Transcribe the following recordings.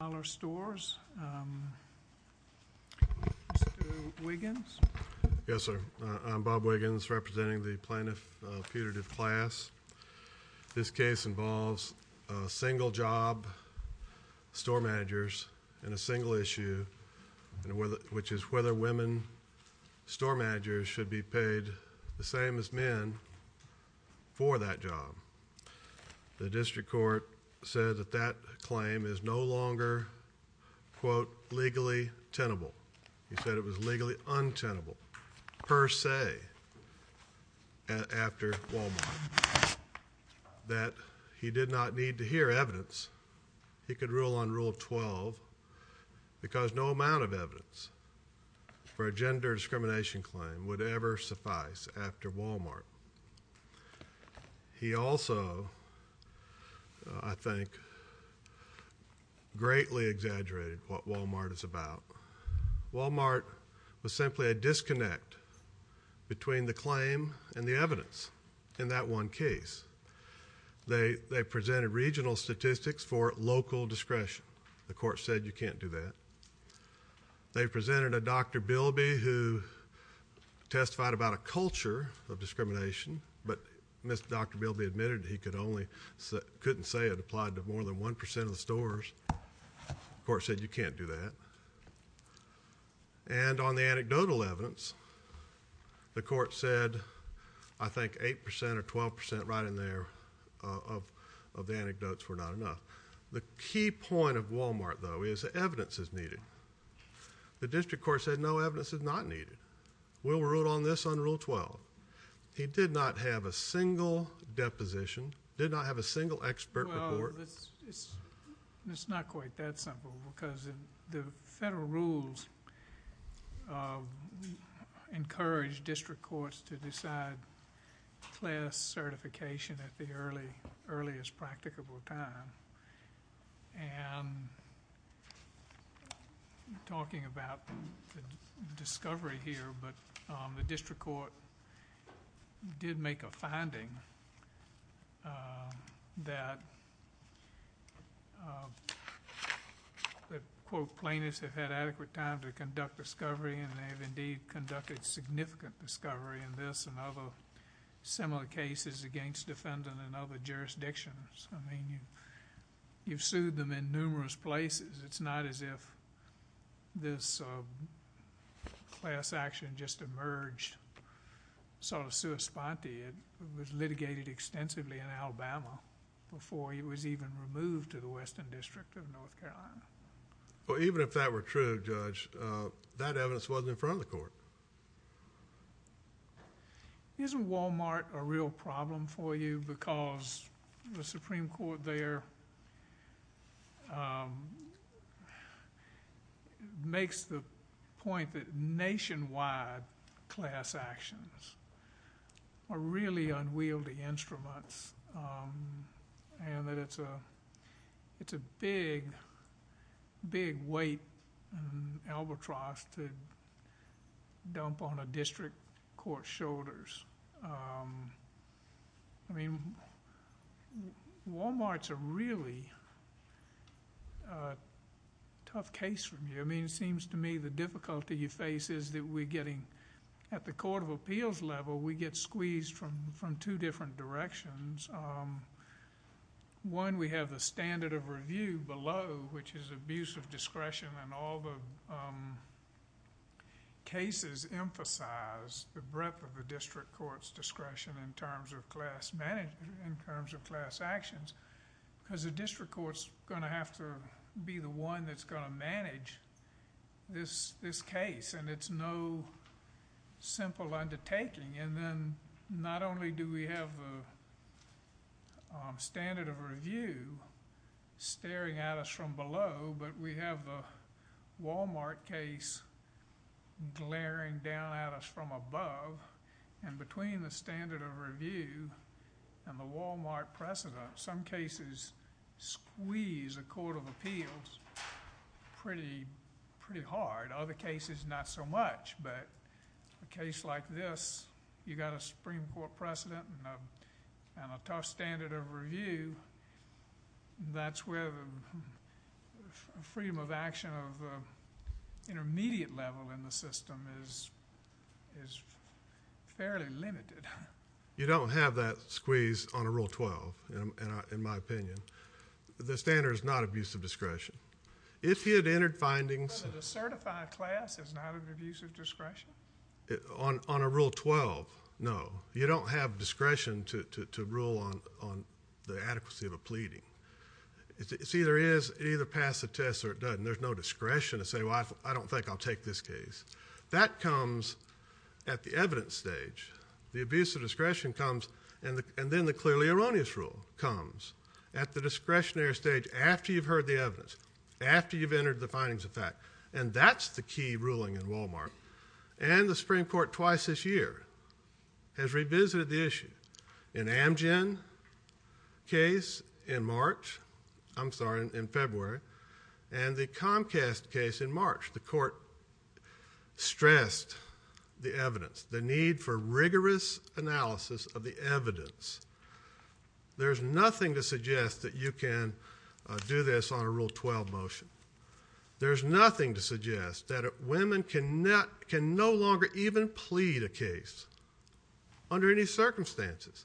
I'm Bob Wiggins representing the plaintiff putative class. This case involves single job store managers and a single issue which is whether women store managers should be paid the same as men for that job. The quote legally tenable. He said it was legally untenable per se and after Walmart that he did not need to hear evidence. He could rule on rule 12 because no amount of evidence for a gender discrimination claim would ever suffice after Walmart. He also I think greatly exaggerated what Walmart is about. Walmart was simply a disconnect between the claim and the evidence in that one case. They presented regional statistics for local discretion. The court said you can't do that. They presented a Dr. Bilby who testified about a culture of discrimination but Mr. Dr. Bilby admitted he could only couldn't say it applied to more than 1% of the stores. The court said you can't do that and on the anecdotal evidence the court said I think 8% or 12% right in there of the anecdotes were not enough. The key point of Walmart though is evidence is needed. The district court said no evidence is not needed. We'll rule on this on rule 12. He did not have a single deposition, did not have a single expert report. It's not quite that simple because the federal rules encouraged district courts to decide class certification at the early earliest practicable time. Talking about the discovery here but the district court did make a finding that quote plaintiffs have had adequate time to conduct discovery and they have indeed conducted significant discovery in this and other similar cases against defendant and other jurisdictions. I mean you've sued them in numerous places. It's not as if this class action just emerged sort of sui sponte. It was litigated extensively in Alabama before it was even removed to the Western District of North Carolina. Well even if that were true Judge that evidence wasn't in front of the court. Isn't Walmart a real problem for you because the Supreme Court there makes the point that nationwide class actions are really unwieldy instruments and that it's a big, big weight and albatross to dump on a district court's shoulders. I mean Walmart's a really tough case for me. I mean it seems to me the difficulty you face is that we're getting at the court of appeals level we get squeezed from two different directions. One we have the standard of review below which is abuse of discretion and all the cases emphasize the breadth of the district court's discretion in terms of class actions because the district court's going to have to be the one that's going to manage this case and it's no simple undertaking and then not only do we have a standard of review staring at us from below but we have a Walmart case glaring down at us from above and between the standard of review and the Walmart precedent some cases squeeze a court of appeals pretty hard. Other cases not so much but a case like this you got a Supreme Court precedent and a tough standard of review that's where the freedom of action of intermediate level in the system is fairly limited. You don't have that squeeze on a rule 12 in my opinion. The standard is not abuse of discretion. If you had entered findings on a rule 12 no you don't have discretion to rule on the adequacy of a pleading. It's either is either pass the test or it doesn't. There's no discretion to say well I don't think I'll take this case. That comes at the evidence stage. The abuse of discretion comes and then the clearly erroneous rule comes at the discretionary stage after you've heard the evidence after you've entered the findings of fact and that's the key ruling in Walmart and the Supreme Court twice this year has revisited the issue. An Amgen case in March I'm sorry in March the court stressed the evidence the need for rigorous analysis of the evidence. There's nothing to suggest that you can do this on a rule 12 motion. There's nothing to suggest that women can not can no longer even plead a case under any circumstances.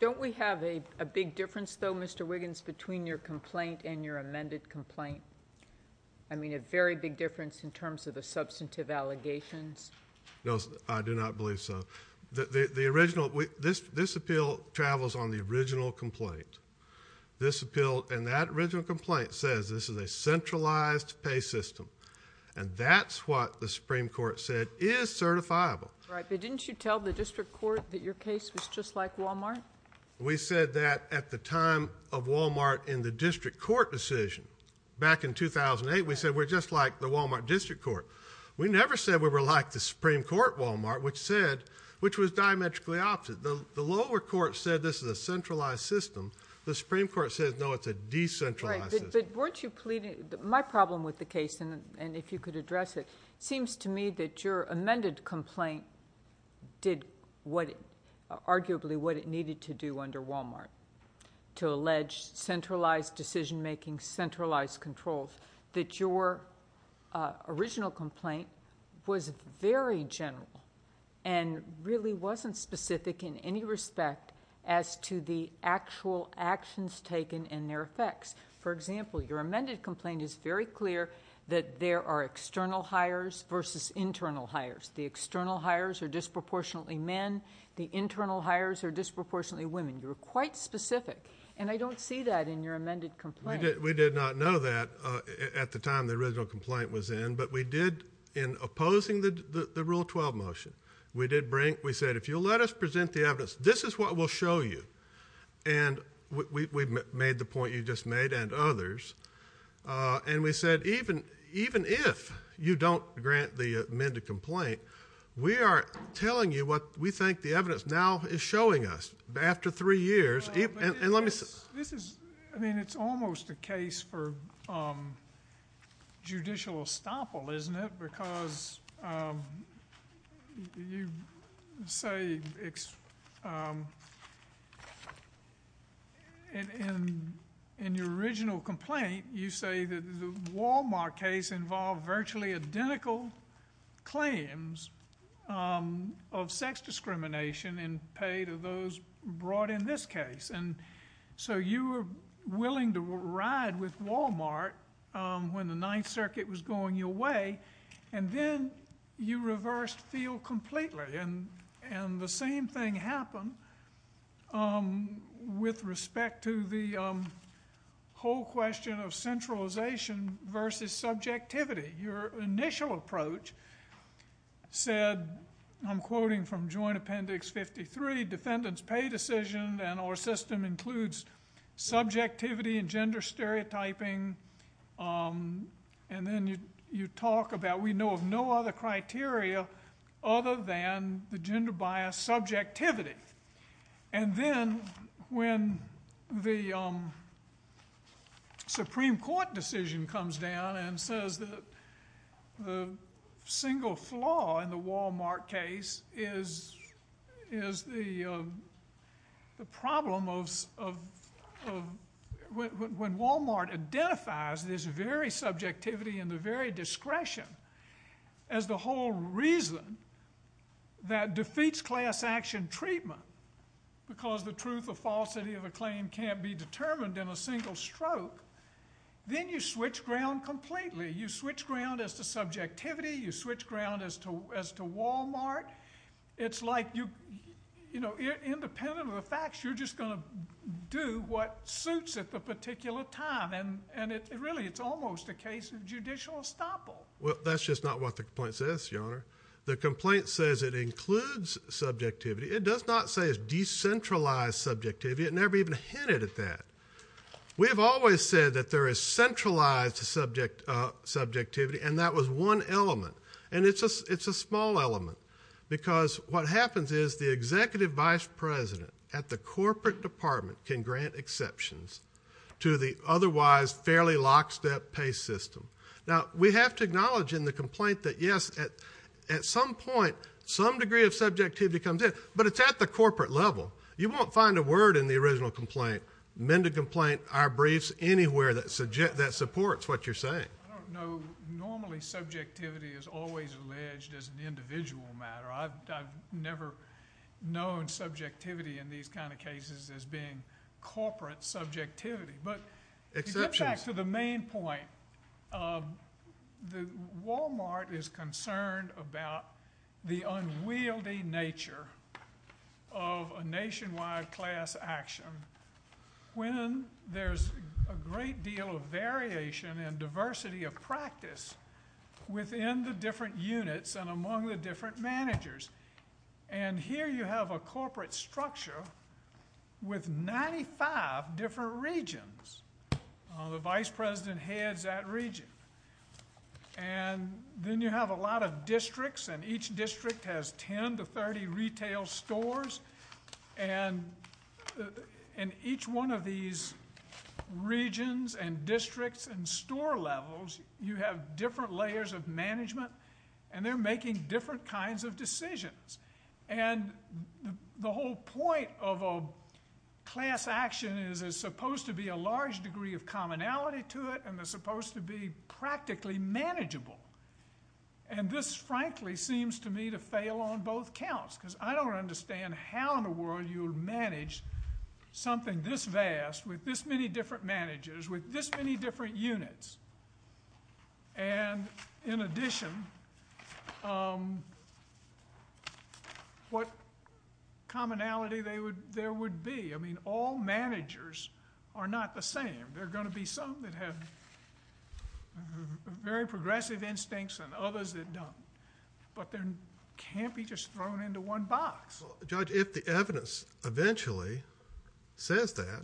Don't we have a big difference though Mr. Wiggins between your complaint and your amended complaint? I mean a very big difference in terms of the substantive allegations. No I do not believe so. The original this this appeal travels on the original complaint. This appeal and that original complaint says this is a centralized pay system and that's what the Supreme Court said is certifiable. Right but didn't you tell the district court that your case was just like Walmart? We said that at the time of Walmart in the district court decision back in 2008 we said we're just like the Walmart district court. We never said we were like the Supreme Court Walmart which said which was diametrically opposite. The lower court said this is a centralized system the Supreme Court says no it's a decentralized system. But weren't you pleading my problem with the case and and if you could address it seems to me that your argument is arguably what it needed to do under Walmart to allege centralized decision-making centralized controls that your original complaint was very general and really wasn't specific in any respect as to the actual actions taken and their effects. For example your amended complaint is very clear that there are external hires versus internal hires. The external hires are disproportionately men the internal hires are disproportionately women. You were quite specific and I don't see that in your amended complaint. We did not know that at the time the original complaint was in but we did in opposing the the rule 12 motion we did bring we said if you'll let us present the evidence this is what we'll show you and we made the point you just made and others and we said even even if you don't grant the amended complaint we are telling you what we think the evidence now is showing us after three years and let me see I mean it's almost a case for judicial estoppel isn't it because you say it's in in your original complaint you say that the Walmart case involved virtually identical claims of sex discrimination in pay to those brought in this case and so you were willing to ride with Walmart when the Ninth Circuit was going your way and then you reversed feel completely and and the same thing happened with respect to the whole question of centralization versus subjectivity your initial approach said I'm quoting from joint appendix 53 defendants pay decision and our system includes subjectivity and gender stereotyping and then you you talk about we know of no other criteria other than the gender bias subjectivity and then when the Supreme Court decision comes down and says that the single flaw in the Walmart case is is the the problem of when Walmart identifies this very subjectivity in the very discretion as the whole reason that defeats class-action treatment because the truth of falsity of a claim can't be determined in a single stroke then you switch ground completely you switch ground as to subjectivity you switch ground as to as to Walmart it's like you you know independent of the facts you're just gonna do what suits at the particular time and and it really it's almost a case of judicial estoppel well that's just not what the point says your honor the complaint says it includes subjectivity it does not say it's decentralized subjectivity it never even hinted at that we have always said that there is centralized subject subjectivity and that was one element and it's just it's a small element because what happens is the executive vice president at the corporate department can grant exceptions to the otherwise fairly lockstep pay system now we have to acknowledge in the complaint that yes at at some point some degree of subjectivity comes in but it's at the corporate level you won't find a word in the original complaint men to complain our briefs anywhere that subject that supports what you're saying no normally subjectivity is always alleged as an individual matter I've never known subjectivity in these kind of cases as being corporate subjectivity but exceptions back to the main point the Walmart is concerned about the unwieldy nature of a nationwide class action when there's a great deal of variation and diversity of practice within the different units and among the different managers and here you have a corporate structure with 95 different regions the vice president heads that region and then you have a lot of districts and each district has 10 to 30 retail stores and in each one of these regions and districts and store levels you have different layers of management and they're making different kinds of decisions and the whole point of a class action is is supposed to be a large degree of commonality to it and they're frankly seems to me to fail on both counts because I don't understand how in the world you'll manage something this vast with this many different managers with this many different units and in addition what commonality they would there would be I mean all managers are not the same they're going to be some that have very progressive instincts and others that don't but then can't be just thrown into one box judge if the evidence eventually says that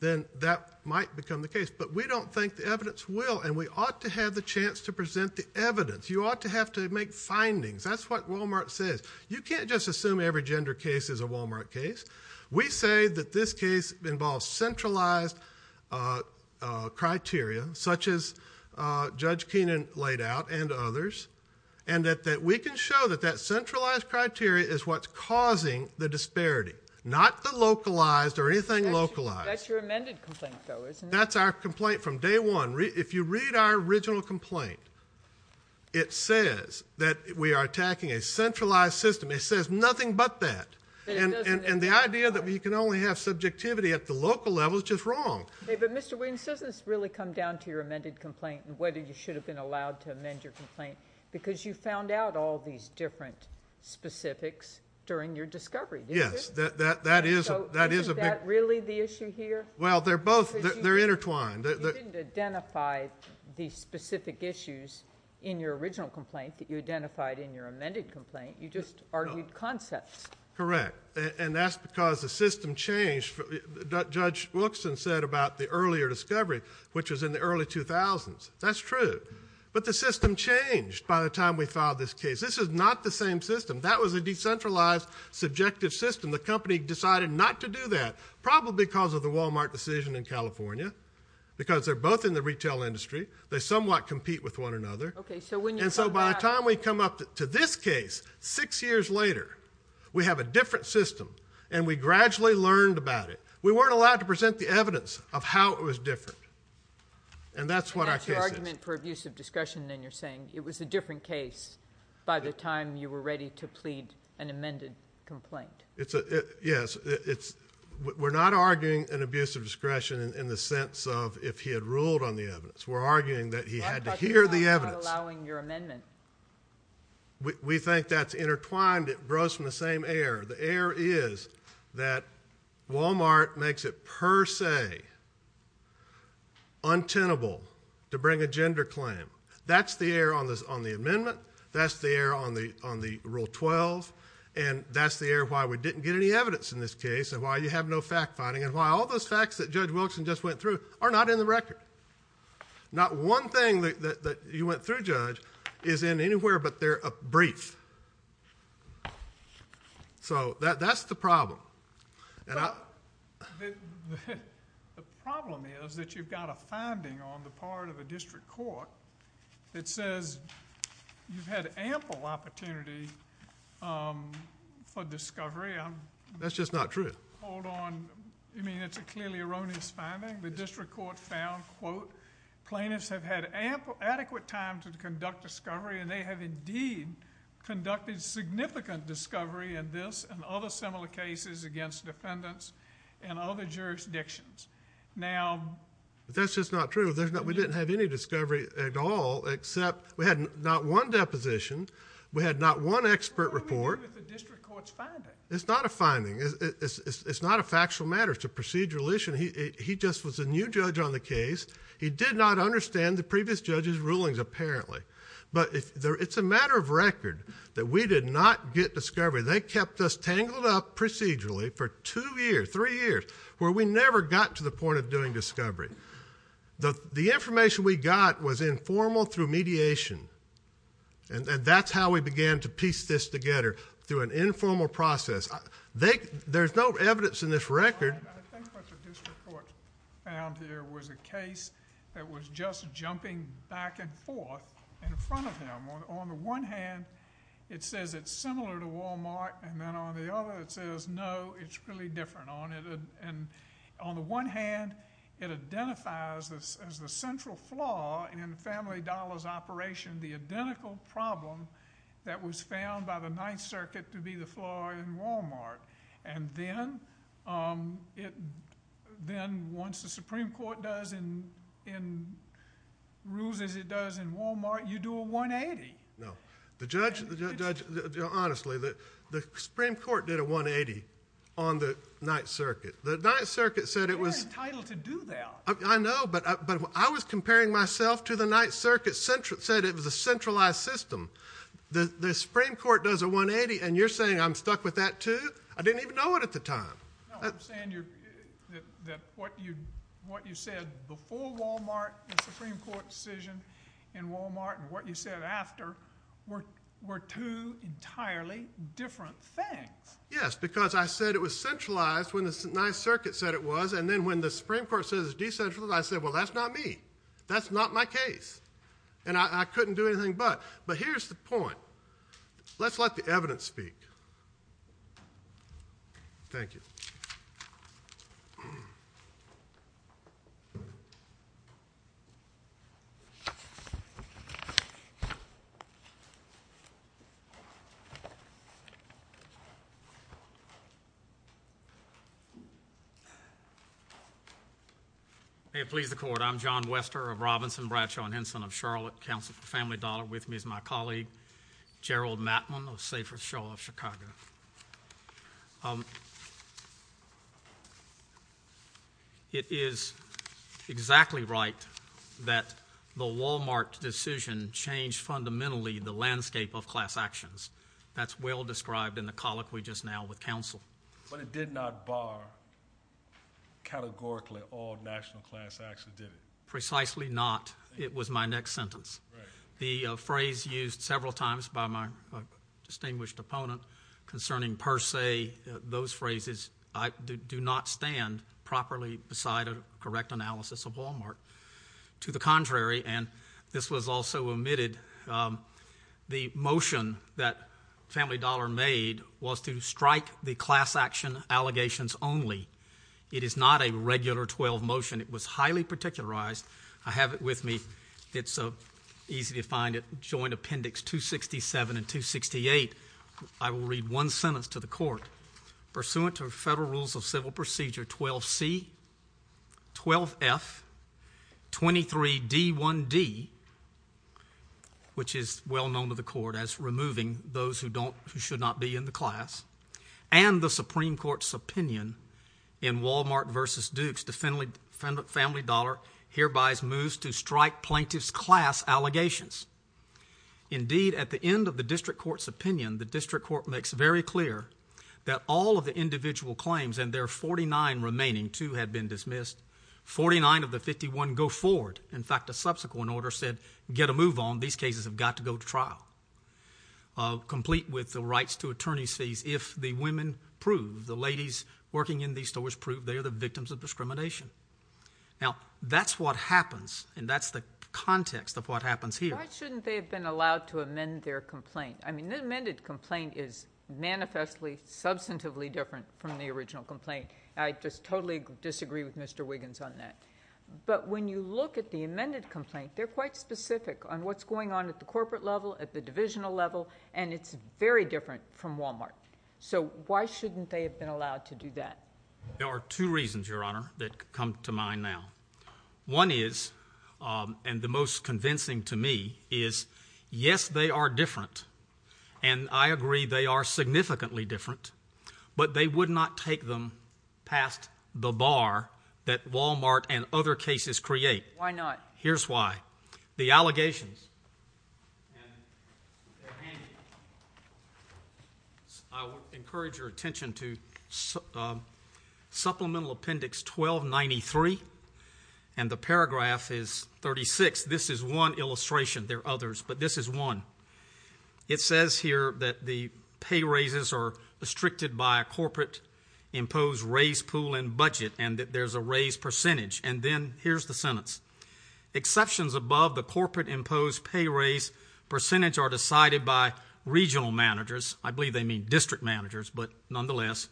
then that might become the case but we don't think the evidence will and we ought to have the chance to present the evidence you ought to have to make findings that's what Walmart says you can't just assume every gender case is a Walmart case we say that this case involves centralized criteria such as judge Keenan laid out and others and that that we can show that that centralized criteria is what's causing the disparity not the localized or anything localized that's our complaint from day one if you read our original complaint it says that we are attacking a centralized system it says nothing but that and and the idea that you can only have subjectivity at the local level is just wrong but mr. Wayne says this really come down to your amended complaint and whether you should have been allowed to amend your complaint because you found out all these different specifics during your discovery yes that that that is that is a bit really the issue here well they're both they're intertwined identify the specific issues in your original complaint that you identified in your amended complaint you just argued concepts correct and that's because the system changed judge Wilkson said about the earlier discovery which was in the early 2000s that's true but the system changed by the time we filed this case this is not the same system that was a decentralized subjective system the company decided not to do that probably because of the Walmart decision in California because they're both in the retail industry they somewhat compete with one another okay so when you know by the time we come up to this case six years later we have a different system and we gradually learned about it we weren't allowed to present the evidence of how it was different and that's what I argument for abuse of discussion then you're saying it was a different case by the time you were ready to plead an amended complaint it's a yes it's we're not arguing an abuse of discretion in the sense of if he had ruled on the evidence we're arguing that he had to hear the evidence allowing your it grows from the same air the air is that Walmart makes it per se untenable to bring a gender claim that's the air on this on the amendment that's the air on the on the rule 12 and that's the air why we didn't get any evidence in this case and why you have no fact-finding and why all those facts that judge Wilson just went through are not in the record not one thing that you went through judge is in anywhere but they're a brief so that that's the problem and I the problem is that you've got a finding on the part of a district court it says you've had ample opportunity for discovery I'm that's just not true hold on you mean it's a clearly erroneous finding the district court found quote plaintiffs have had ample adequate time to conduct discovery and they have indeed conducted significant discovery and this and other similar cases against defendants and other jurisdictions now that's just not true there's not we didn't have any discovery at all except we hadn't not one deposition we had not one expert report it's not a finding it's not a judge on the case he did not understand the previous judges rulings apparently but if there it's a matter of record that we did not get discovery they kept us tangled up procedurally for two years three years where we never got to the point of doing discovery the the information we got was informal through mediation and that's how we began to piece this together through an informal process they there's no evidence in this record and there was a case that was just jumping back and forth in front of him on the one hand it says it's similar to Walmart and then on the other it says no it's really different on it and on the one hand it identifies this as the central flaw in the family dollars operation the identical problem that was found by the Ninth Circuit to be the floor in Walmart and then it then once the Supreme Court does in in rules as it does in Walmart you do a 180 no the judge the judge honestly that the Supreme Court did a 180 on the Ninth Circuit the Ninth Circuit said it was entitled to do that I know but but I was comparing myself to the Ninth Circuit central said it was a centralized system the the Supreme Court does a 180 and you're saying I'm stuck with that too I didn't even know it at the time what you what you said before Walmart the Supreme Court decision in Walmart and what you said after work were two entirely different things yes because I said it was centralized when the Ninth Circuit said it was and then when the Supreme Court says it's decentralized I said well that's not me that's not my case and I couldn't do anything but but here's the point let's let the evidence speak thank you it please the court I'm John Wester of Robinson Bradshaw and Henson of Charlotte Council for Family Dollar with me is my colleague Gerald Matlin of Safer Shaw of Chicago it is exactly right that the Walmart decision changed fundamentally the landscape of class actions that's well described in the colloquy just now with counsel but it did not bar categorically all national class precisely not it was my next sentence the phrase used several times by my distinguished opponent concerning per se those phrases I do not stand properly beside a correct analysis of Walmart to the contrary and this was also omitted the motion that Family Dollar made was to strike the class action allegations only it is not a regular 12 motion it was highly particularized I have it with me it's a easy to find it joint appendix 267 and 268 I will read one sentence to the court pursuant to federal rules of civil procedure 12 C 12 F 23 D 1 D which is well known to the court as removing those who don't who should not be in the class and the Supreme Court's opinion in Walmart vs. Dukes to Family Dollar hereby moves to strike plaintiff's class allegations indeed at the end of the district court's opinion the district court makes very clear that all of the individual claims and their 49 remaining two had been dismissed 49 of the 51 go forward in fact a subsequent order said get a move on these cases have got to go complete with the rights to attorney's fees if the women prove the ladies working in the stores prove they are the victims of discrimination now that's what happens and that's the context of what happens here shouldn't they have been allowed to amend their complaint I mean the amended complaint is manifestly substantively different from the original complaint I just totally disagree with mr. Wiggins on that but when you look at the amended complaint they're quite specific on what's going on at the corporate level at the divisional level and it's very different from Walmart so why shouldn't they have been allowed to do that there are two reasons your honor that come to mind now one is and the most convincing to me is yes they are different and I agree they are significantly different but they would not take them past the bar that the allegations encourage your attention to supplemental appendix 1293 and the paragraph is 36 this is one illustration there others but this is one it says here that the pay raises are restricted by a corporate impose raise pool and there's a raise percentage and then here's the sentence exceptions above the corporate impose pay raise percentage are decided by regional managers I believe they mean district managers but nonetheless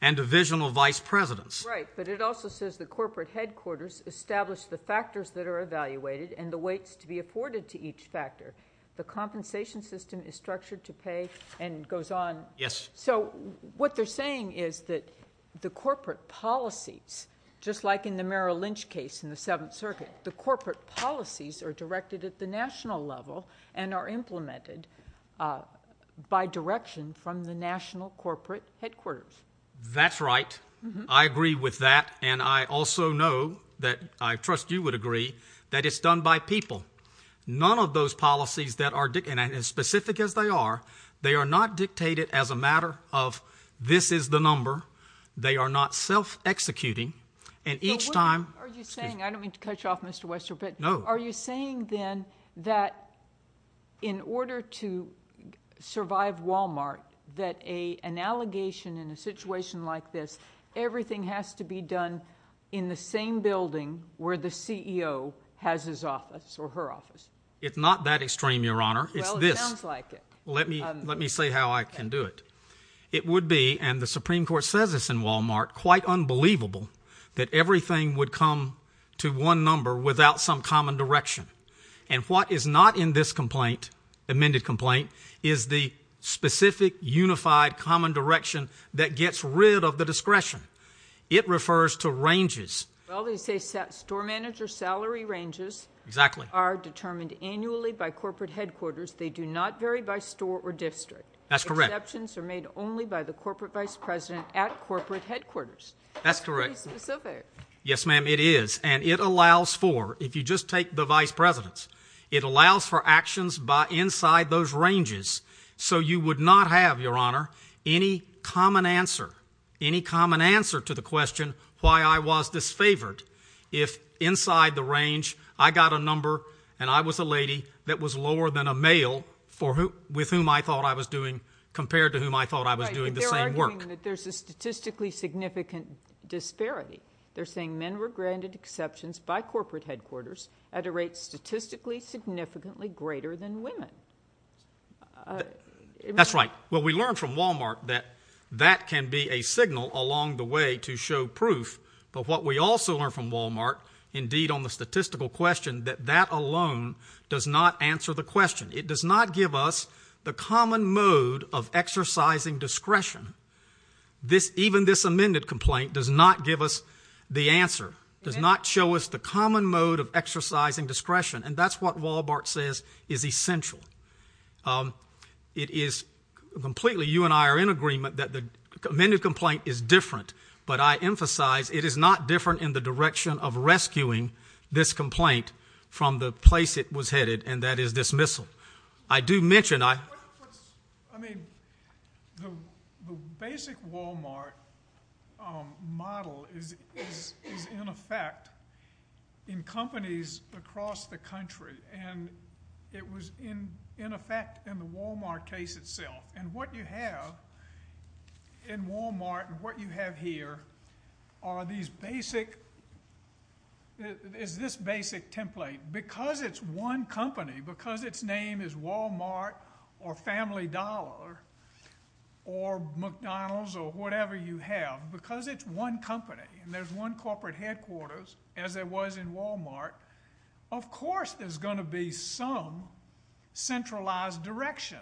and divisional vice presidents right but it also says the corporate headquarters established the factors that are evaluated and the weights to be afforded to each factor the compensation system is structured to pay and goes on yes so what they're is that the corporate policies just like in the Merrill Lynch case in the Seventh Circuit the corporate policies are directed at the national level and are implemented by direction from the national corporate headquarters that's right I agree with that and I also know that I trust you would agree that it's done by people none of those policies that are did and as specific as they are they are not dictated as a matter of this is the number they are not self executing and each time are you saying I don't mean to cut you off mr. Wester but no are you saying then that in order to survive Walmart that a an allegation in a situation like this everything has to be done in the same building where the CEO has his office or her office it's not that extreme your honor it's this like it let me let me say how I can do it it would be and the Supreme Court says this in Walmart quite unbelievable that everything would come to one number without some common direction and what is not in this complaint amended complaint is the specific unified common direction that gets rid of the discretion it refers to ranges well they say set store manager salary ranges exactly are determined annually by corporate headquarters they do not vary by store or district that's correct actions are made only by the corporate vice president at corporate headquarters that's correct yes ma'am it is and it allows for if you just take the vice presidents it allows for actions by inside those ranges so you would not have your honor any common answer any if inside the range I got a number and I was a lady that was lower than a male for who with whom I thought I was doing compared to whom I thought I was doing the same work there's a statistically significant disparity they're saying men were granted exceptions by corporate headquarters at a rate statistically significantly greater than women that's right well we learned from Walmart that that can be a signal along the way to show proof but what we also learn from Walmart indeed on the statistical question that that alone does not answer the question it does not give us the common mode of exercising discretion this even this amended complaint does not give us the answer does not show us the common mode of exercising discretion and that's what Wal-Mart says is that the amended complaint is different but I emphasize it is not different in the direction of rescuing this complaint from the place it was headed and that is dismissal I do mention I mean the basic Walmart model is in effect in companies across the country and it was in in effect in the Walmart case itself and what you have in Walmart and what you have here are these basic is this basic template because it's one company because its name is Walmart or Family Dollar or McDonald's or whatever you have because it's one company and there's one corporate headquarters as there was in Walmart of course there's going to be some centralized direction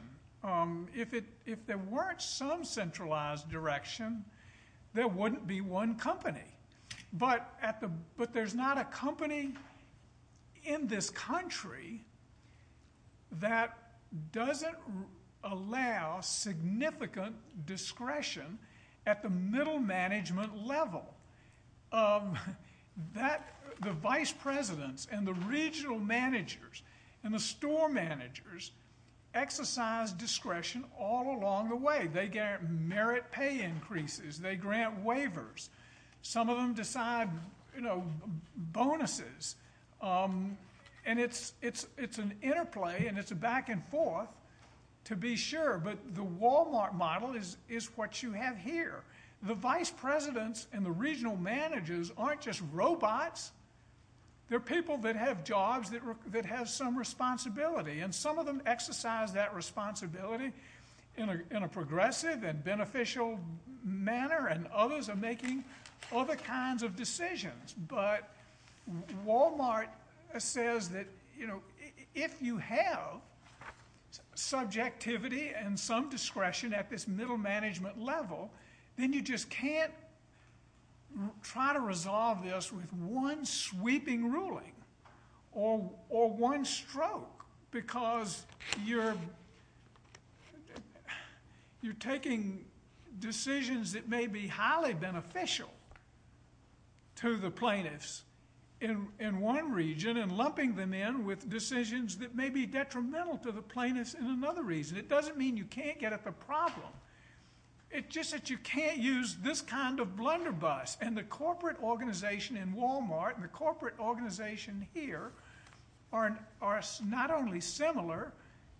if it if there weren't some centralized direction there wouldn't be one company but at the but there's not a company in this country that doesn't allow significant discretion at the middle management level that the vice presidents and the regional managers and the store managers exercise discretion all along the way they get merit pay increases they grant waivers some of them decide you know bonuses and it's it's it's an interplay and it's a back-and-forth to be sure but the Walmart model is is what you have here the vice presidents and the regional managers aren't just robots they're people that have jobs that work that has some responsibility and some of them exercise that responsibility in a progressive and beneficial manner and others are making other kinds of decisions but Walmart says that you know if you have subjectivity and some discretion at this middle management level then you just can't try to resolve this with one sweeping ruling or or one stroke because you're you're taking decisions that may be highly beneficial to the plaintiffs in in one region and lumping them in with decisions that may be detrimental to the plaintiffs in another reason it doesn't mean you can't get at the problem it just that you can't use this kind of blunderbuss and the corporate organization in Walmart and the corporate organization here aren't are not only similar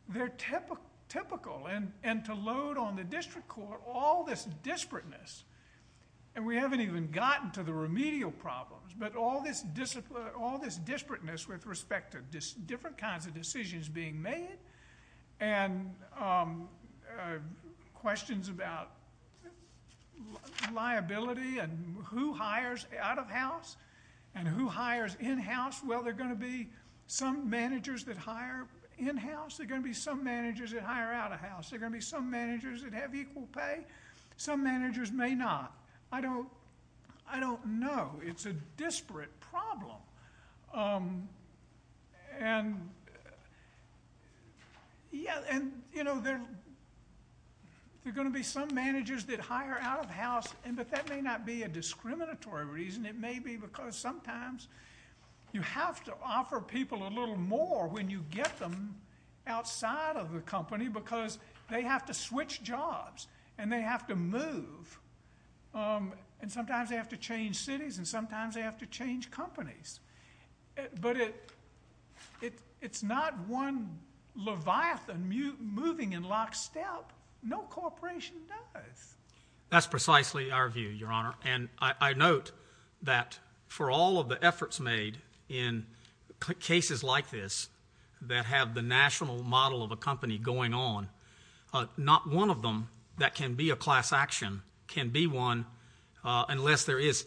they're typical typical and and to load on the district court all this disparateness and we haven't even gotten to the remedial problems but all this discipline all this disparateness with respect to just different kinds of decisions being made and questions about liability and who hires out of house and who hires in house well they're going to be some managers that hire in-house they're going to be some managers that have equal pay some managers may not I don't I don't know it's a disparate problem and yeah and you know they're they're going to be some managers that hire out of house and but that may not be a discriminatory reason it may be because sometimes you have to offer people a company because they have to switch jobs and they have to move and sometimes they have to change cities and sometimes they have to change companies but it it it's not one Leviathan you moving in lockstep no corporation does that's precisely our view your honor and I note that for all of the efforts made in cases like this that have the national model of a company going on not one of them that can be a class action can be one unless there is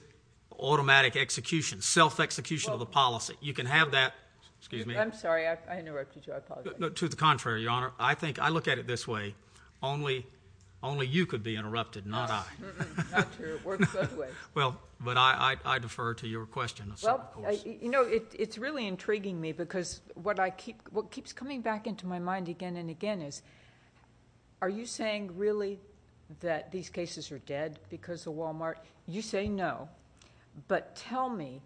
automatic execution self execution of the policy you can have that to the contrary your honor I think I look at it this way only only you could be interrupted not well but I I defer to your question you know it's really intriguing me because what I keep what keeps coming back into my mind again and again is are you saying really that these cases are dead because the Walmart you say no but tell me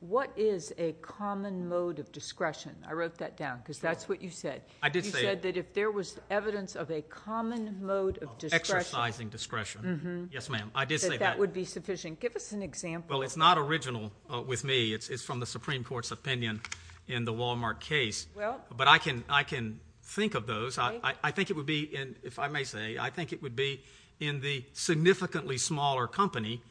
what is a common mode of discretion I wrote that down because that's what you said I did say that if there was evidence of a common mode of exercising discretion yes ma'am I did say that would be sufficient give us an example it's not original with me it's from the Supreme Court's opinion in the Walmart case but I can I can think of those I think it would be in if I may say I think it would be in the significantly smaller company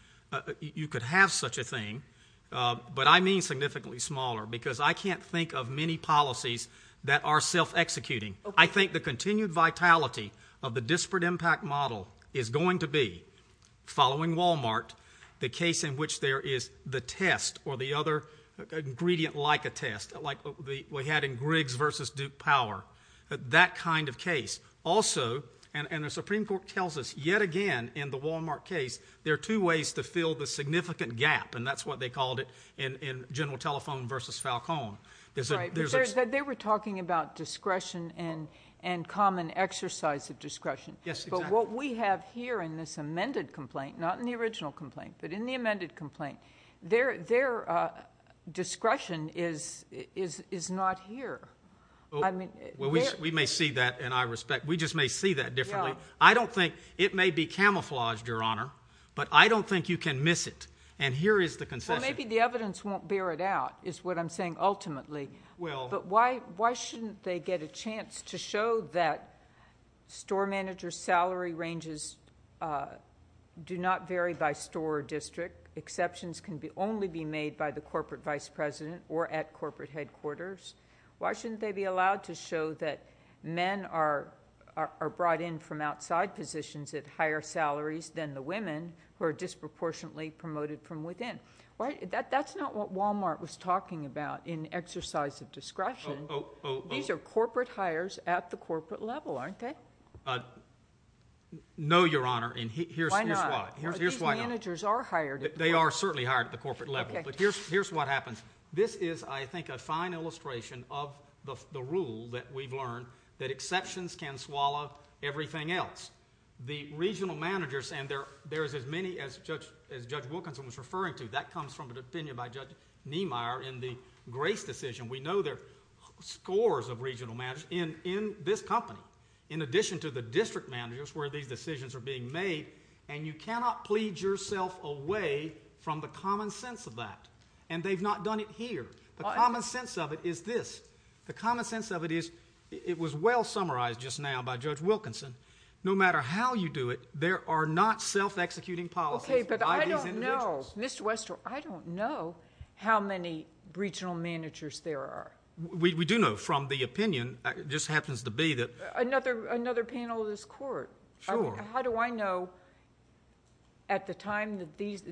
you could have such a thing but I mean significantly smaller because I can't think of many policies that are self-executing I think the continued vitality of the disparate impact model is going to be following Walmart the case in which there is the test or the other ingredient like a test like we had in Griggs versus Duke power that kind of case also and the Supreme Court tells us yet again in the Walmart case there are two ways to fill the significant gap and that's what they called it in in general telephone versus Falcone they were talking about discretion and and common exercise of discretion yes but what we have here in this amended complaint not in the original complaint but in the amended complaint there their discretion is is is not here I mean we may see that and I respect we just may see that differently I don't think it may be camouflaged your honor but I don't think you can miss it and here is the concern maybe the evidence won't bear it out is what I'm saying ultimately well but why why shouldn't they get a chance to show that store manager salary ranges do not vary by store district exceptions can be only be made by the corporate vice president or at corporate headquarters why shouldn't they be allowed to show that men are brought in from outside positions at higher salaries than the women who are disproportionately promoted from within right that that's not what Walmart was talking about in exercise of discretion these are corporate hires at the corporate level aren't they know your honor and here's why managers are hired they are certainly hired at the corporate level but here's here's what happens this is I think a fine illustration of the rule that we've learned that exceptions can swallow everything else the regional managers and there there is as many as judge as judge Wilkinson was referring to that comes from the opinion by judge Niemeyer in the grace decision we know their scores of regional match in in this company in addition to the district managers where these decisions are being made and you cannot plead yourself away from the common sense of that and they've not done it here the common sense of it is this the common sense of it is it was well summarized just now by judge Wilkinson no matter how you do it there are not self-executing policy mr. Wester I don't know how many regional managers there are we do know from the opinion just happens to be that another another panel of this court how do I know at the time that these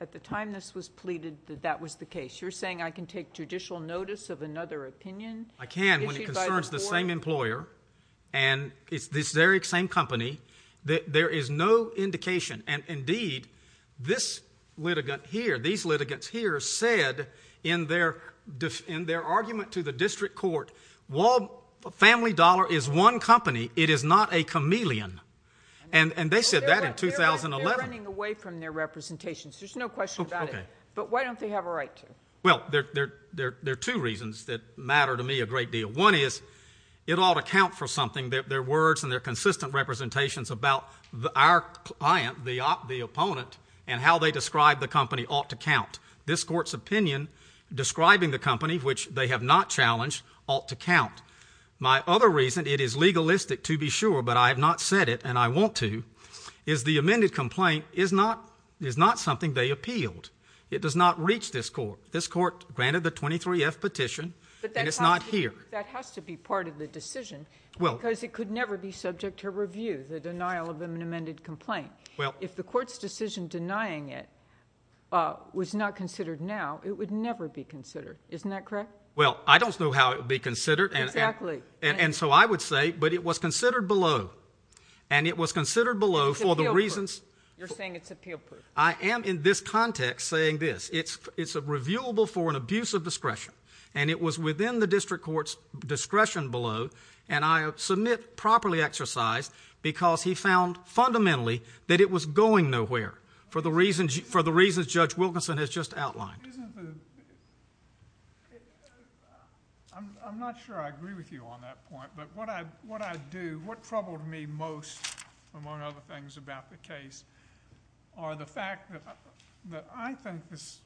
at the time this was pleaded that that was the case you're saying I can take judicial notice of another opinion I can when it concerns the same employer and it's this very same company that there is no indication and indeed this litigant here these litigants here said in their def in their argument to the district court wall family dollar is one company it is not a chameleon and and they said that in 2011 running away from their representations there's no question about it but why don't they have a right to well there there there there are two reasons that matter to me a great deal one is it ought to count for something that their words and their consistent representations about our client the op the opponent and how they describe the company ought to count this court's opinion describing the company which they have not challenged ought to count my other reason it is legalistic to be sure but I have not said it and I want to is the amended complaint is not is not something they appealed it does not reach this court this court granted the 23 F petition but that's not here that has to be part of the decision well because it could never be subject to review the denial of an amended complaint well if the court's decision denying it was not considered now it would never be considered isn't that correct well I don't know how it be considered and actually and so I would say but it was considered below and it was considered below for the reasons I am in this context saying this it's it's a reviewable for an abuse of discretion and it was within the district court's discretion below and I submit properly exercised because he found fundamentally that it was going nowhere for the reasons you for the reasons judge Wilkinson has just outlined I'm not sure I agree with you on that point but what I what I do what troubled me most among other things about the case are the fact that I think this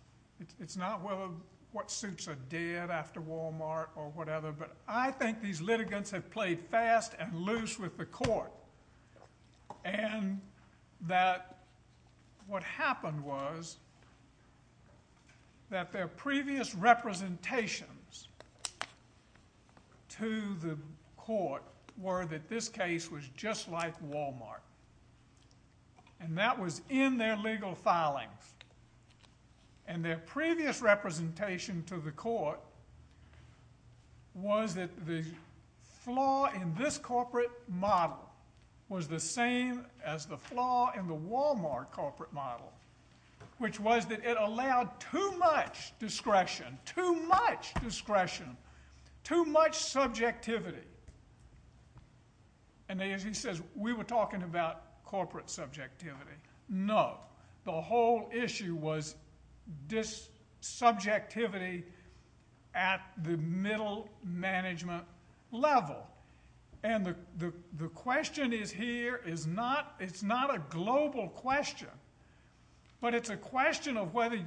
it's not well what suits are dead after Walmart or whatever but I think these litigants have played fast and loose with the court and that what happened was that their previous representations to the court were that this case was just like Walmart and that was in their legal filings and their previous representation to the court was that the flaw in this corporate model was the same as the flaw in the Walmart corporate model which was that it allowed too much discretion too much discretion too much subjectivity and as he says we were talking about corporate subjectivity no the whole issue was this subjectivity at the middle management level and the the question is here is not it's not a global question but it's a question of whether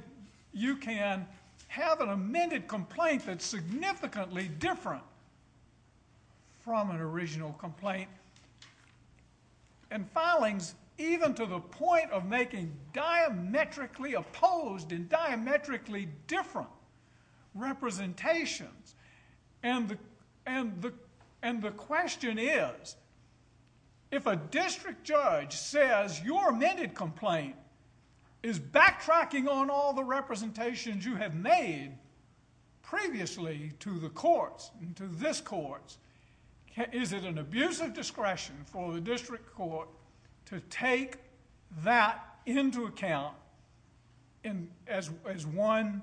you can have an amended complaint that's even to the point of making diametrically opposed and diametrically different representations and the and the and the question is if a district judge says your amended complaint is backtracking on all the representations you have made previously to the courts into this courts is it an abuse of discretion? Take that into account and as one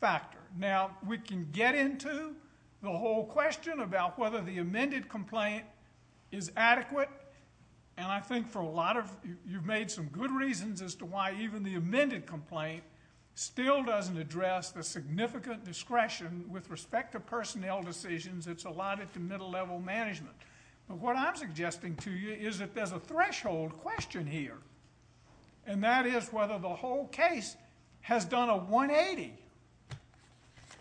factor now we can get into the whole question about whether the amended complaint is adequate and I think for a lot of you've made some good reasons as to why even the amended complaint still doesn't address the significant discretion with respect to personnel decisions it's allotted to middle level management but what I'm suggesting to you is if there's a threshold question here and that is whether the whole case has done a 180.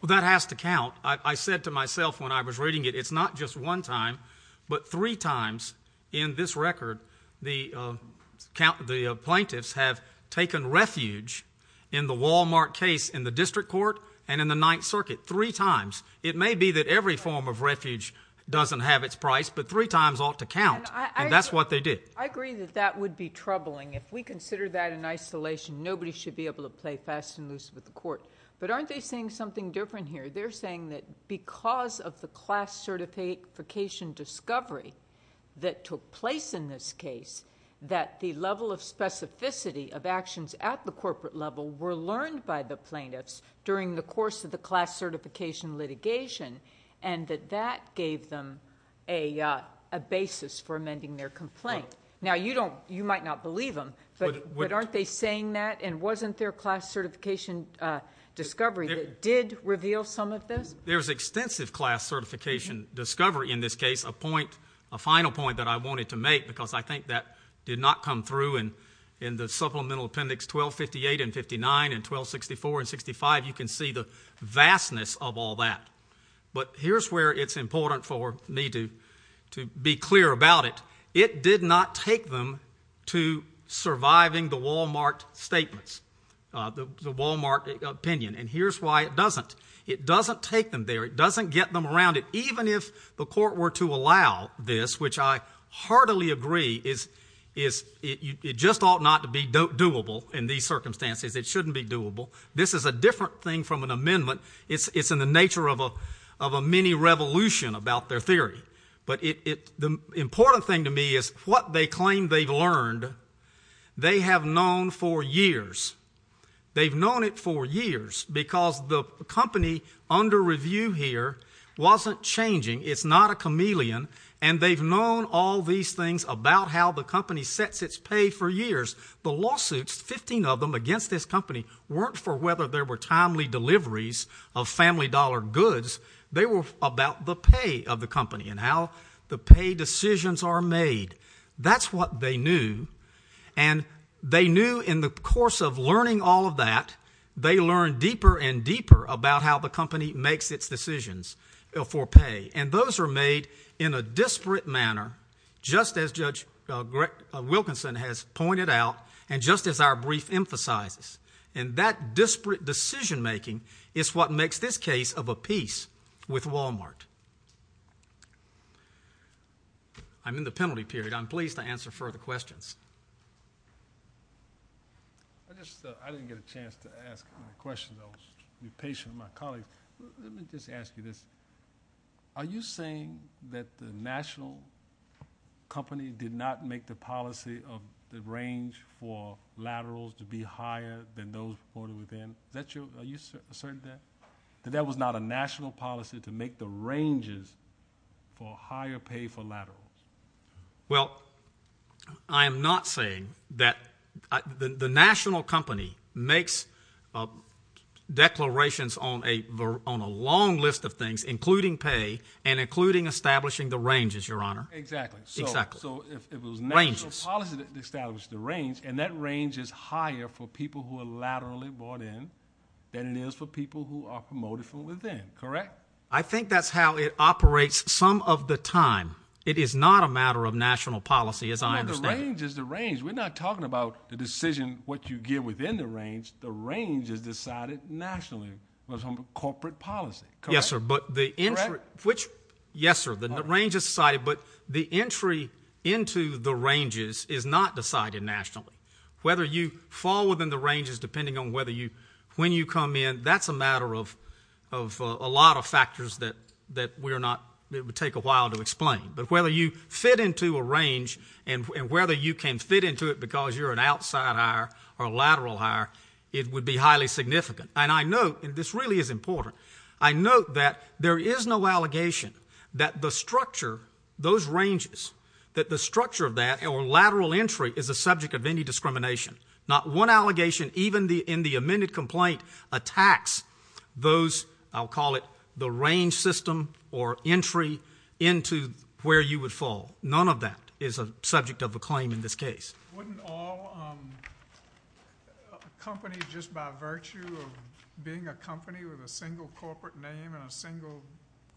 That has to count I said to myself when I was reading it it's not just one time but three times in this record the count the plaintiffs have taken refuge in the Walmart case in the district court and in the Ninth Circuit three times it may be that every form of refuge doesn't have its price but three times ought to count and that's what they did. I agree that that would be troubling if we consider that in isolation nobody should be able to play fast and loose with the court but aren't they saying something different here they're saying that because of the class certification discovery that took place in this case that the level of specificity of actions at the corporate level were learned by the plaintiffs during the course of the class certification litigation and that that gave them a basis for amending their complaint. Now you don't you might not believe them but aren't they saying that and wasn't their class certification discovery that did reveal some of this? There's extensive class certification discovery in this case a point a final point that I wanted to make because I think that did not come through and in the supplemental appendix 1258 and 59 and 1264 and 65 you can see the vastness of all that but here's where it's important for me to to be clear about it. It did not take them to surviving the Walmart statements the Walmart opinion and here's why it doesn't it doesn't take them there it doesn't get them around it even if the court were to allow this which I heartily agree is is it just ought not to be doable in these circumstances it shouldn't be doable this is a different thing from an amendment it's it's in the nature of a of a mini revolution about their theory but it the important thing to me is what they claim they've learned they have known for years they've known it for years because the company under review here wasn't changing it's not a chameleon and they've known all these things about how the company sets its pay for years the lawsuits 15 of them against this company weren't for whether there were timely deliveries of family dollar goods they were about the pay of the company and how the pay decisions are made that's what they knew and they knew in the course of learning all of that they learned deeper and deeper about how the company makes its decisions for pay and those are made in a disparate manner just as Judge Wilkinson has pointed out and just as our brief emphasizes and that disparate decision-making is what makes this case of a piece with Walmart I'm in the penalty period I'm pleased to answer further questions I didn't get a chance to ask a question though be patient my colleague let me just ask you this are you saying that the national company did not make the policy of the range for laterals to be higher than those afforded within that you are you certain that that was not a national policy to make the ranges for I am NOT saying that the national company makes declarations on a on a long list of things including pay and including establishing the ranges your honor exactly exactly so it was ranges establish the range and that range is higher for people who are laterally bought in than it is for people who are promoted from within correct I think that's how it operates some of the time it is not a matter of national policy as I understand the range is the range we're not talking about the decision what you give within the range the range is decided nationally was on the corporate policy yes sir but the entry which yes sir the range of society but the entry into the ranges is not decided nationally whether you fall within the ranges depending on whether you when you come in that's a matter of of a lot of factors that that we are not it would take a while to explain but whether you fit into a range and whether you can fit into it because you're an outside higher or lateral higher it would be highly significant and I know this really is important I know that there is no allegation that the structure those ranges that the structure of that or lateral entry is a subject of any discrimination not one allegation even the in the amended complaint attacks those I'll call it the range system or entry into where you would fall none of that is a subject of a claim in this case wouldn't all company just by virtue of being a company with a single corporate name and a single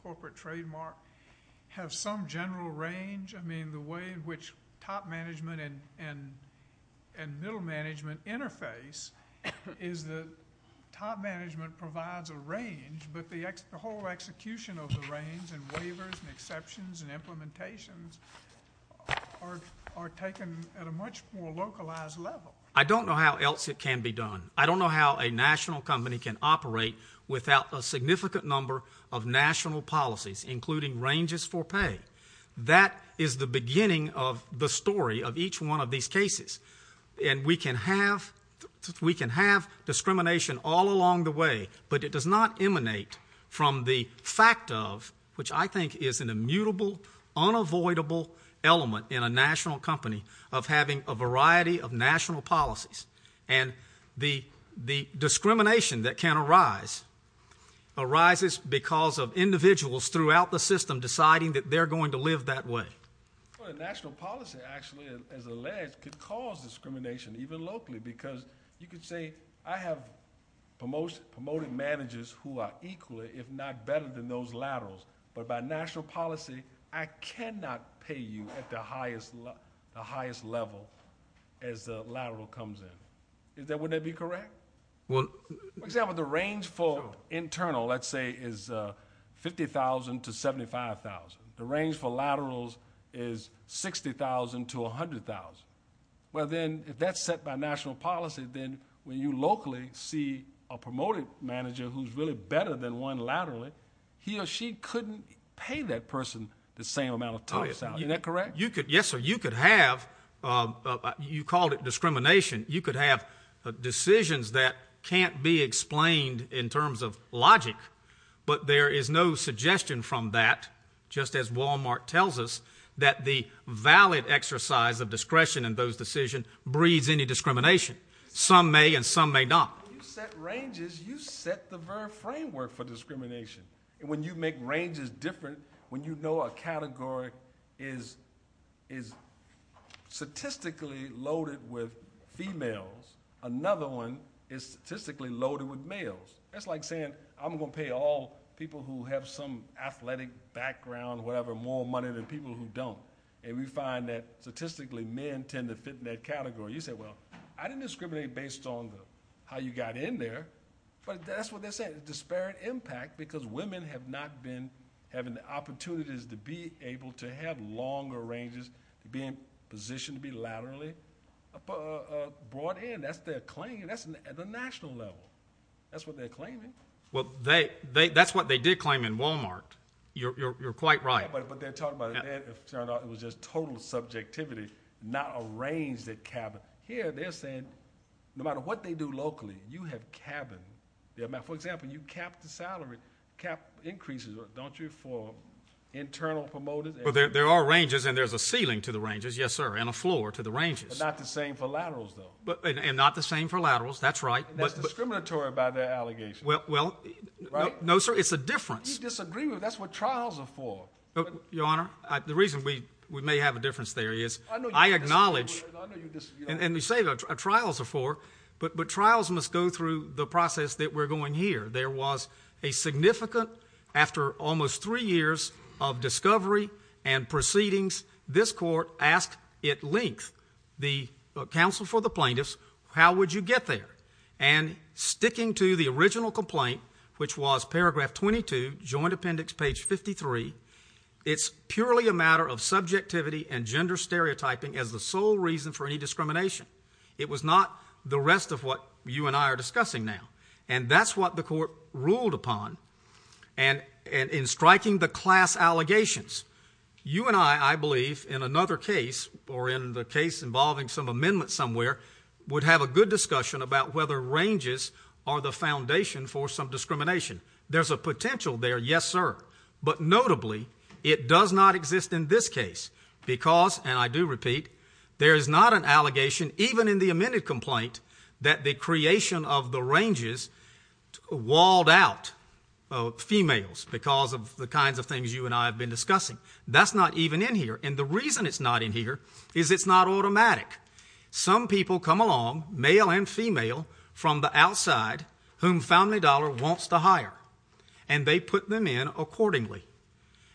corporate trademark have some general range I mean the way which top management and and and middle management interface is the top execution of the range and waivers and exceptions and implementations are are taken at a much more localized level I don't know how else it can be done I don't know how a national company can operate without a significant number of national policies including ranges for pay that is the beginning of the story of each one of these cases and we can have we can have discrimination all fact of which I think is an immutable unavoidable element in a national company of having a variety of national policies and the the discrimination that can arise arises because of individuals throughout the system deciding that they're going to live that way discrimination even locally because you could say I have most promoted managers who are equally if not better than those laterals but by national policy I cannot pay you at the highest the highest level as the lateral comes in is that would that be correct well example the range for internal let's say is a 50,000 to 75,000 the range for laterals is 60,000 to 100,000 well then if that's set by national policy then when you locally see a manager who's really better than one laterally he or she couldn't pay that person the same amount of time is that correct you could yes or you could have you called it discrimination you could have decisions that can't be explained in terms of logic but there is no suggestion from that just as Walmart tells us that the valid exercise of discretion in those decision breeds any discrimination some may and some may not set ranges you set the framework for discrimination when you make ranges different when you know a category is is statistically loaded with females another one is statistically loaded with males that's like saying I'm gonna pay all people who have some athletic background whatever more money than people who don't and we find that statistically men tend to fit in that category you said well I didn't discriminate based on how you got in there but that's what they said disparate impact because women have not been having the opportunities to be able to have longer ranges being positioned to be laterally brought in that's their claim that's at the national level that's what they're claiming well they they that's what they did claim in Walmart you're quite right but they're it was just total subjectivity not arranged at cabin here they're saying no matter what they do locally you have cabin yeah for example you kept the salary cap increases don't you for internal promoted well there are ranges and there's a ceiling to the ranges yes sir and a floor to the ranges not the same for laterals though but and not the same for laterals that's right but discriminatory about their allegations well well right no sir it's a difference disagreement that's what trials are for your honor the reason we we may have a difference there is I acknowledge and we say that our trials are for but but trials must go through the process that we're going here there was a significant after almost three years of discovery and proceedings this court asked it links the counsel for the plaintiffs how would you get there and sticking to the joint appendix page 53 it's purely a matter of subjectivity and gender stereotyping as the sole reason for any discrimination it was not the rest of what you and I are discussing now and that's what the court ruled upon and in striking the class allegations you and I I believe in another case or in the case involving some amendment somewhere would have a good discussion about whether are the foundation for some discrimination there's a potential there yes sir but notably it does not exist in this case because and I do repeat there is not an allegation even in the amended complaint that the creation of the ranges walled out females because of the kinds of things you and I have been discussing that's not even in here and the reason it's not in here is it's not on the outside whom found a dollar wants to hire and they put them in accordingly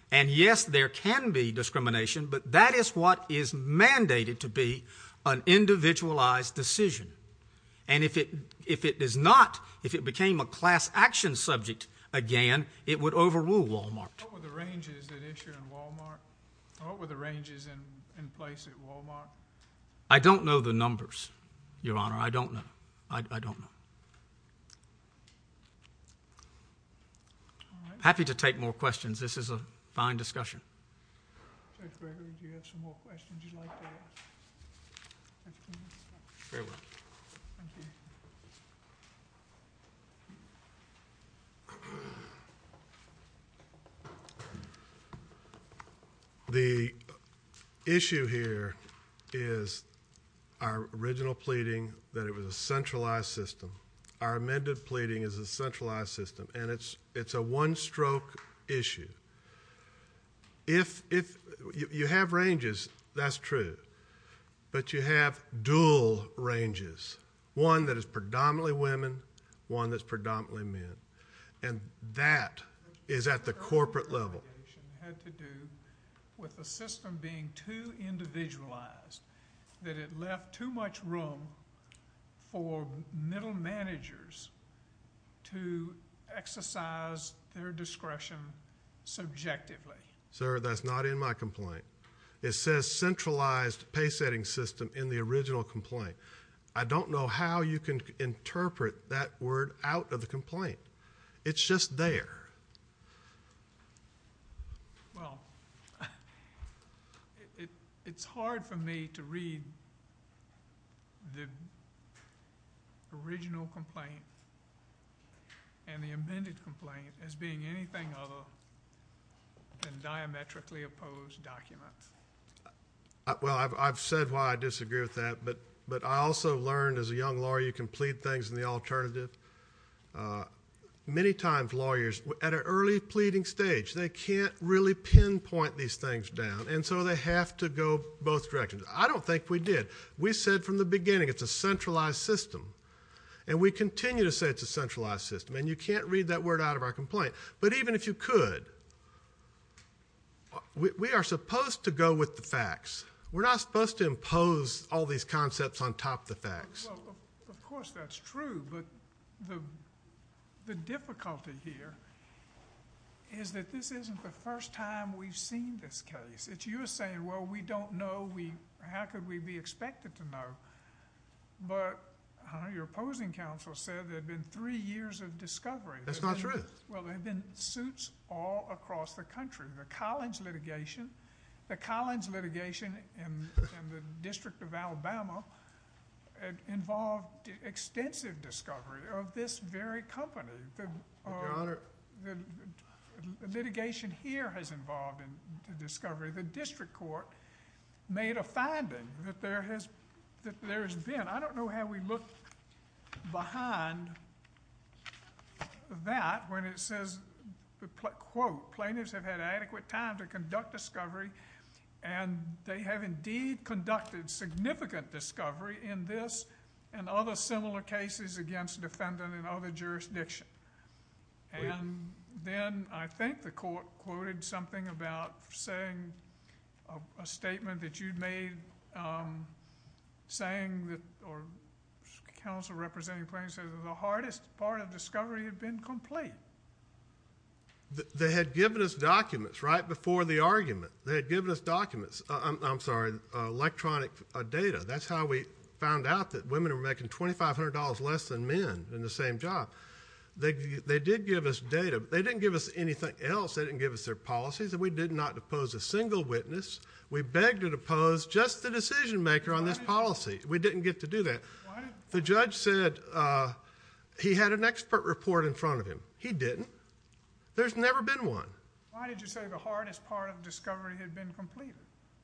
and yes there can be discrimination but that is what is mandated to be an individualized decision and if it if it is not if it became a class action subject again it would overrule wal-mart the ranges that issue in wal-mart what were the ranges in place at wal-mart I don't know the numbers your honor I don't know I don't know happy to take more questions this is a fine discussion the issue here is our original pleading that it was a centralized system our amended pleading is a centralized system and it's it's a one-stroke issue if if you have ranges that's true but you have dual ranges one that is predominantly women one that's predominantly men and that is at the corporate level with the system being too individualized that it left too much room for middle managers to exercise their discretion subjectively sir that's not in my complaint it says centralized pay setting system in the original complaint I don't know how you can interpret that word out of the complaint it's just there well it's hard for me to read the original complaint and the amended complaint as being anything other than diametrically opposed documents well I've said why I disagree with that but but I also learned as a young lawyer you can plead things in the alternative many times lawyers at an early pleading stage they can't really pinpoint these things down and so they have to go both directions I don't think we did we said from the beginning it's a centralized system and we continue to say it's a centralized system and you can't read that word out of our complaint but even if you could we are supposed to go with the facts we're not supposed to impose all these concepts on top the facts of course that's true but the the difficulty here is that this isn't the first time we've seen this case it's you're saying well we don't know we how could we be expected to know but your opposing counsel said they've been three years of discovery that's not true well they've been suits all across the country the Collins litigation the Collins litigation and the District of Alabama involved extensive discovery of this very company the litigation here has involved in the discovery the district court made a finding that there has that there's been I don't know how we look behind that when it says the plaintiffs have had adequate time to conduct discovery and they have indeed conducted significant discovery in this and other similar cases against defendant and other jurisdiction and then I think the court quoted something about saying a statement that you'd made saying that or counsel representing the hardest part of discovery had been complete they had given us documents right before the argument they had given us documents I'm sorry electronic data that's how we found out that women are making $2,500 less than men in the same job they did give us data they didn't give us anything else they didn't give us their policies and we did not depose a single witness we begged her to pose just the decision maker on this policy we didn't get to do that the judge said he had an expert report in front of him he didn't there's never been one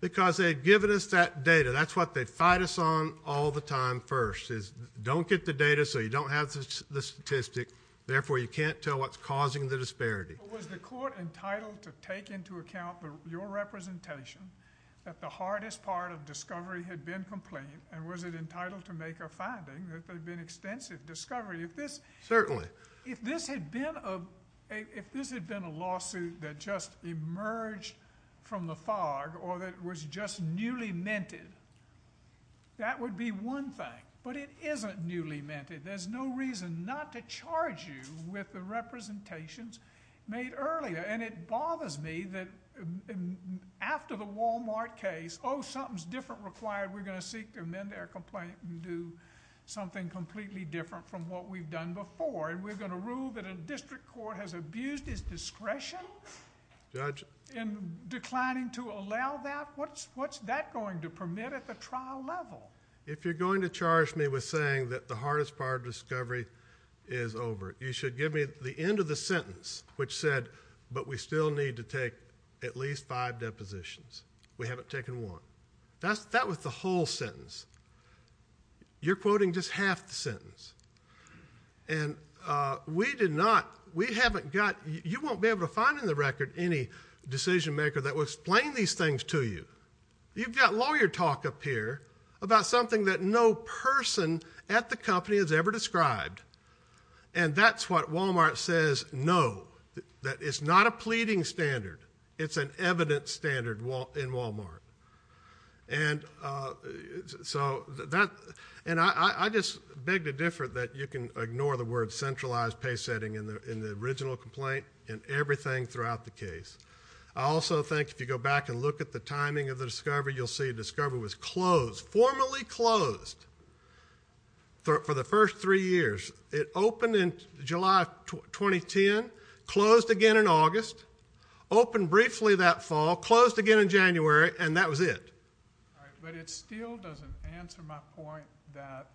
because they had given us that data that's what they fight us on all the time first is don't get the data so you don't have the statistic therefore you can't tell what's causing the disparity was the court entitled to take into account your representation that the hardest part of discovery had been complete and was it discovery if this certainly if this had been a if this had been a lawsuit that just emerged from the fog or that was just newly minted that would be one thing but it isn't newly minted there's no reason not to charge you with the representations made earlier and it bothers me that after the Walmart case oh something's different required we're going to seek their men they're going to complain do something completely different from what we've done before and we're going to rule that a district court has abused his discretion judge in declining to allow that what's what's that going to permit at the trial level if you're going to charge me with saying that the hardest part of discovery is over you should give me the end of the sentence which said but we still need to take at least five depositions we haven't taken one that's that was the whole sentence you're quoting just half the sentence and we did not we haven't got you won't be able to find in the record any decision maker that will explain these things to you you've got lawyer talk up here about something that no person at the company has ever described and that's what Walmart says no that it's not a pleading standard it's an evidence standard wall in Walmart and so that and I just beg to differ that you can ignore the word centralized pay setting in the in the original complaint and everything throughout the case I also think if you go back and look at the timing of the discovery you'll see discover was closed formally closed for the first three years it opened in July 2010 closed again in August open briefly that fall closed again in January and that was it but it still doesn't answer my point that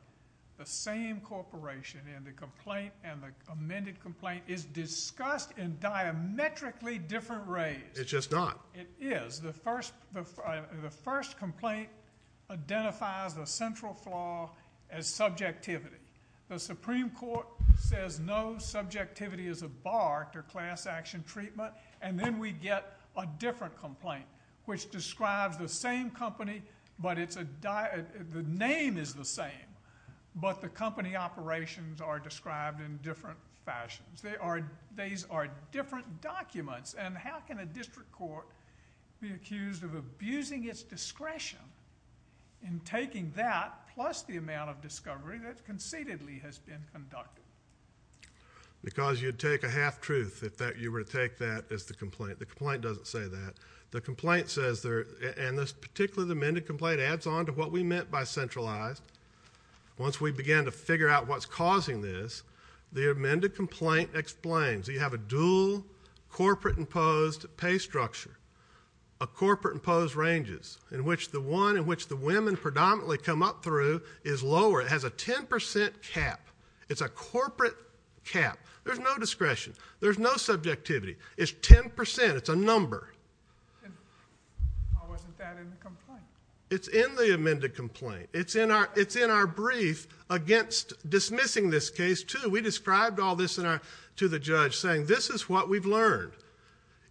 the same corporation in the complaint and the amended complaint is discussed in diametrically different ways it's just not it is the first the first complaint identifies the central flaw as subjectivity the Supreme Court says no subjectivity is a bar to class action treatment and then we get a different complaint which describes the same company but it's a diet the name is the same but the company operations are described in different fashions they are these are different documents and how can a district court be accused of abusing its discretion in taking that plus the amount of discovery that concededly has been conducted because you'd take a half-truth if that you were to take that as the complaint the complaint doesn't say that the complaint says there and this particularly the amended complaint adds on to what we meant by centralized once we began to figure out what's causing this the amended complaint explains you have a dual corporate imposed pay structure a corporate imposed ranges in which the one in which the women predominantly come up through is lower it has a 10% cap it's a corporate cap there's no discretion there's no subjectivity is 10% it's a number it's in the amended complaint it's in our it's in our brief against dismissing this case to we described all this in our to the judge saying this is what we've learned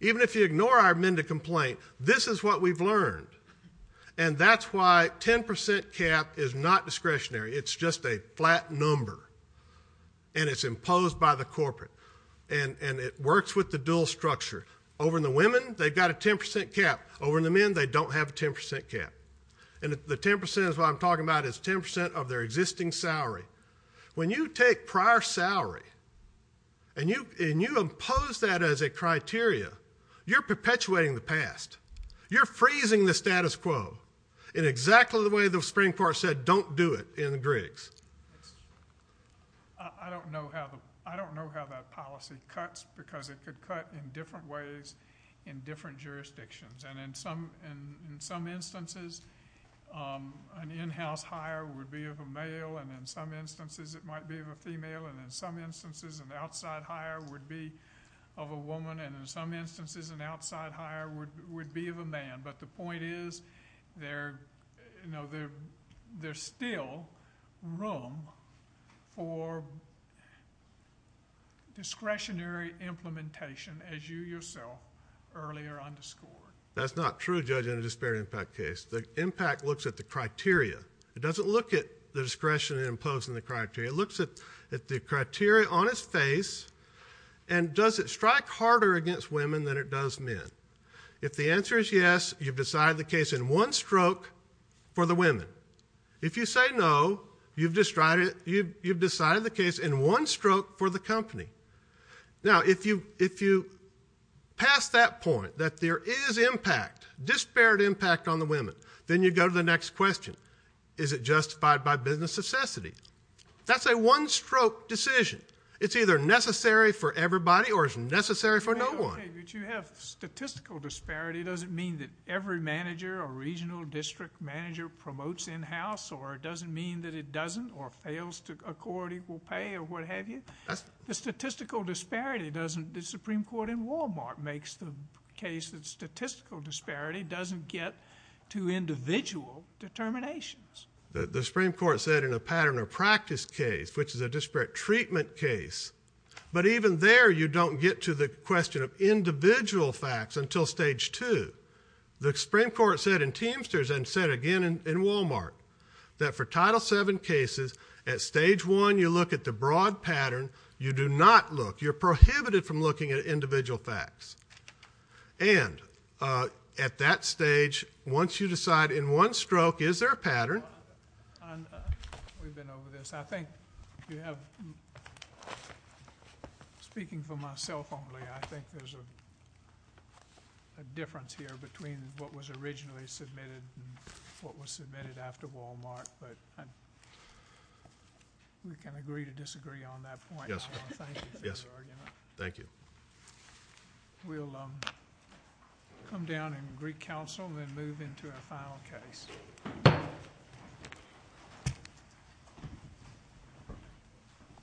even if you ignore our men to complain this is what we've learned and that's why 10% cap is not discretionary it's just a flat number and it's imposed by the corporate and and it works with the dual structure over in the women they've got a 10% cap over in the men they don't have a 10% cap and the 10% is what I'm talking about is 10% of their existing salary when you take prior salary and you and you impose that as a criteria you're perpetuating the past you're freezing the status quo in exactly the way the Supreme Court said don't do it in the Griggs I don't know how I don't know how that policy cuts because it could cut in different ways in different jurisdictions and in some in some instances an in-house hire would be of a male and in some instances it might be of a female and in some instances an outside hire would be of a woman and in some instances an outside hire would be of a man but the point is they're you know they're they're still room for discretionary implementation as you yourself earlier underscored that's not true judging a disparity impact case the impact looks at the criteria it doesn't look at the discretion in imposing the criteria looks at that the criteria on its face and does it strike harder against women than it does men if the answer is yes you've decided the case in one stroke for the women if you say no you've destroyed it you've decided the case in one stroke for the company now if you if you pass that point that there is impact disparate impact on the women then you go to the next question is it justified by business necessity that's a one-stroke decision it's either necessary for everybody or is necessary for no one statistical disparity doesn't mean that every manager or regional district manager promotes in-house or it doesn't mean that it doesn't or fails to accord equal pay or what have you the statistical disparity doesn't the Supreme Court in Walmart makes the case that statistical disparity doesn't get to individual determinations the Supreme Court said in a pattern of practice case which is a disparate treatment case but even there you don't get to the question of individual facts until stage two the Supreme Court said in Teamsters and said again in Walmart that for title seven cases at stage one you look at the broad pattern you do not look you're prohibited from looking at individual facts and at that stage once you decide in one stroke is there a pattern we've been over this I think you have speaking for myself only I think there's a difference here between what was originally submitted what was submitted after Walmart but we can agree to disagree on that point yes yes thank you we'll come down in Greek Council and move into our final case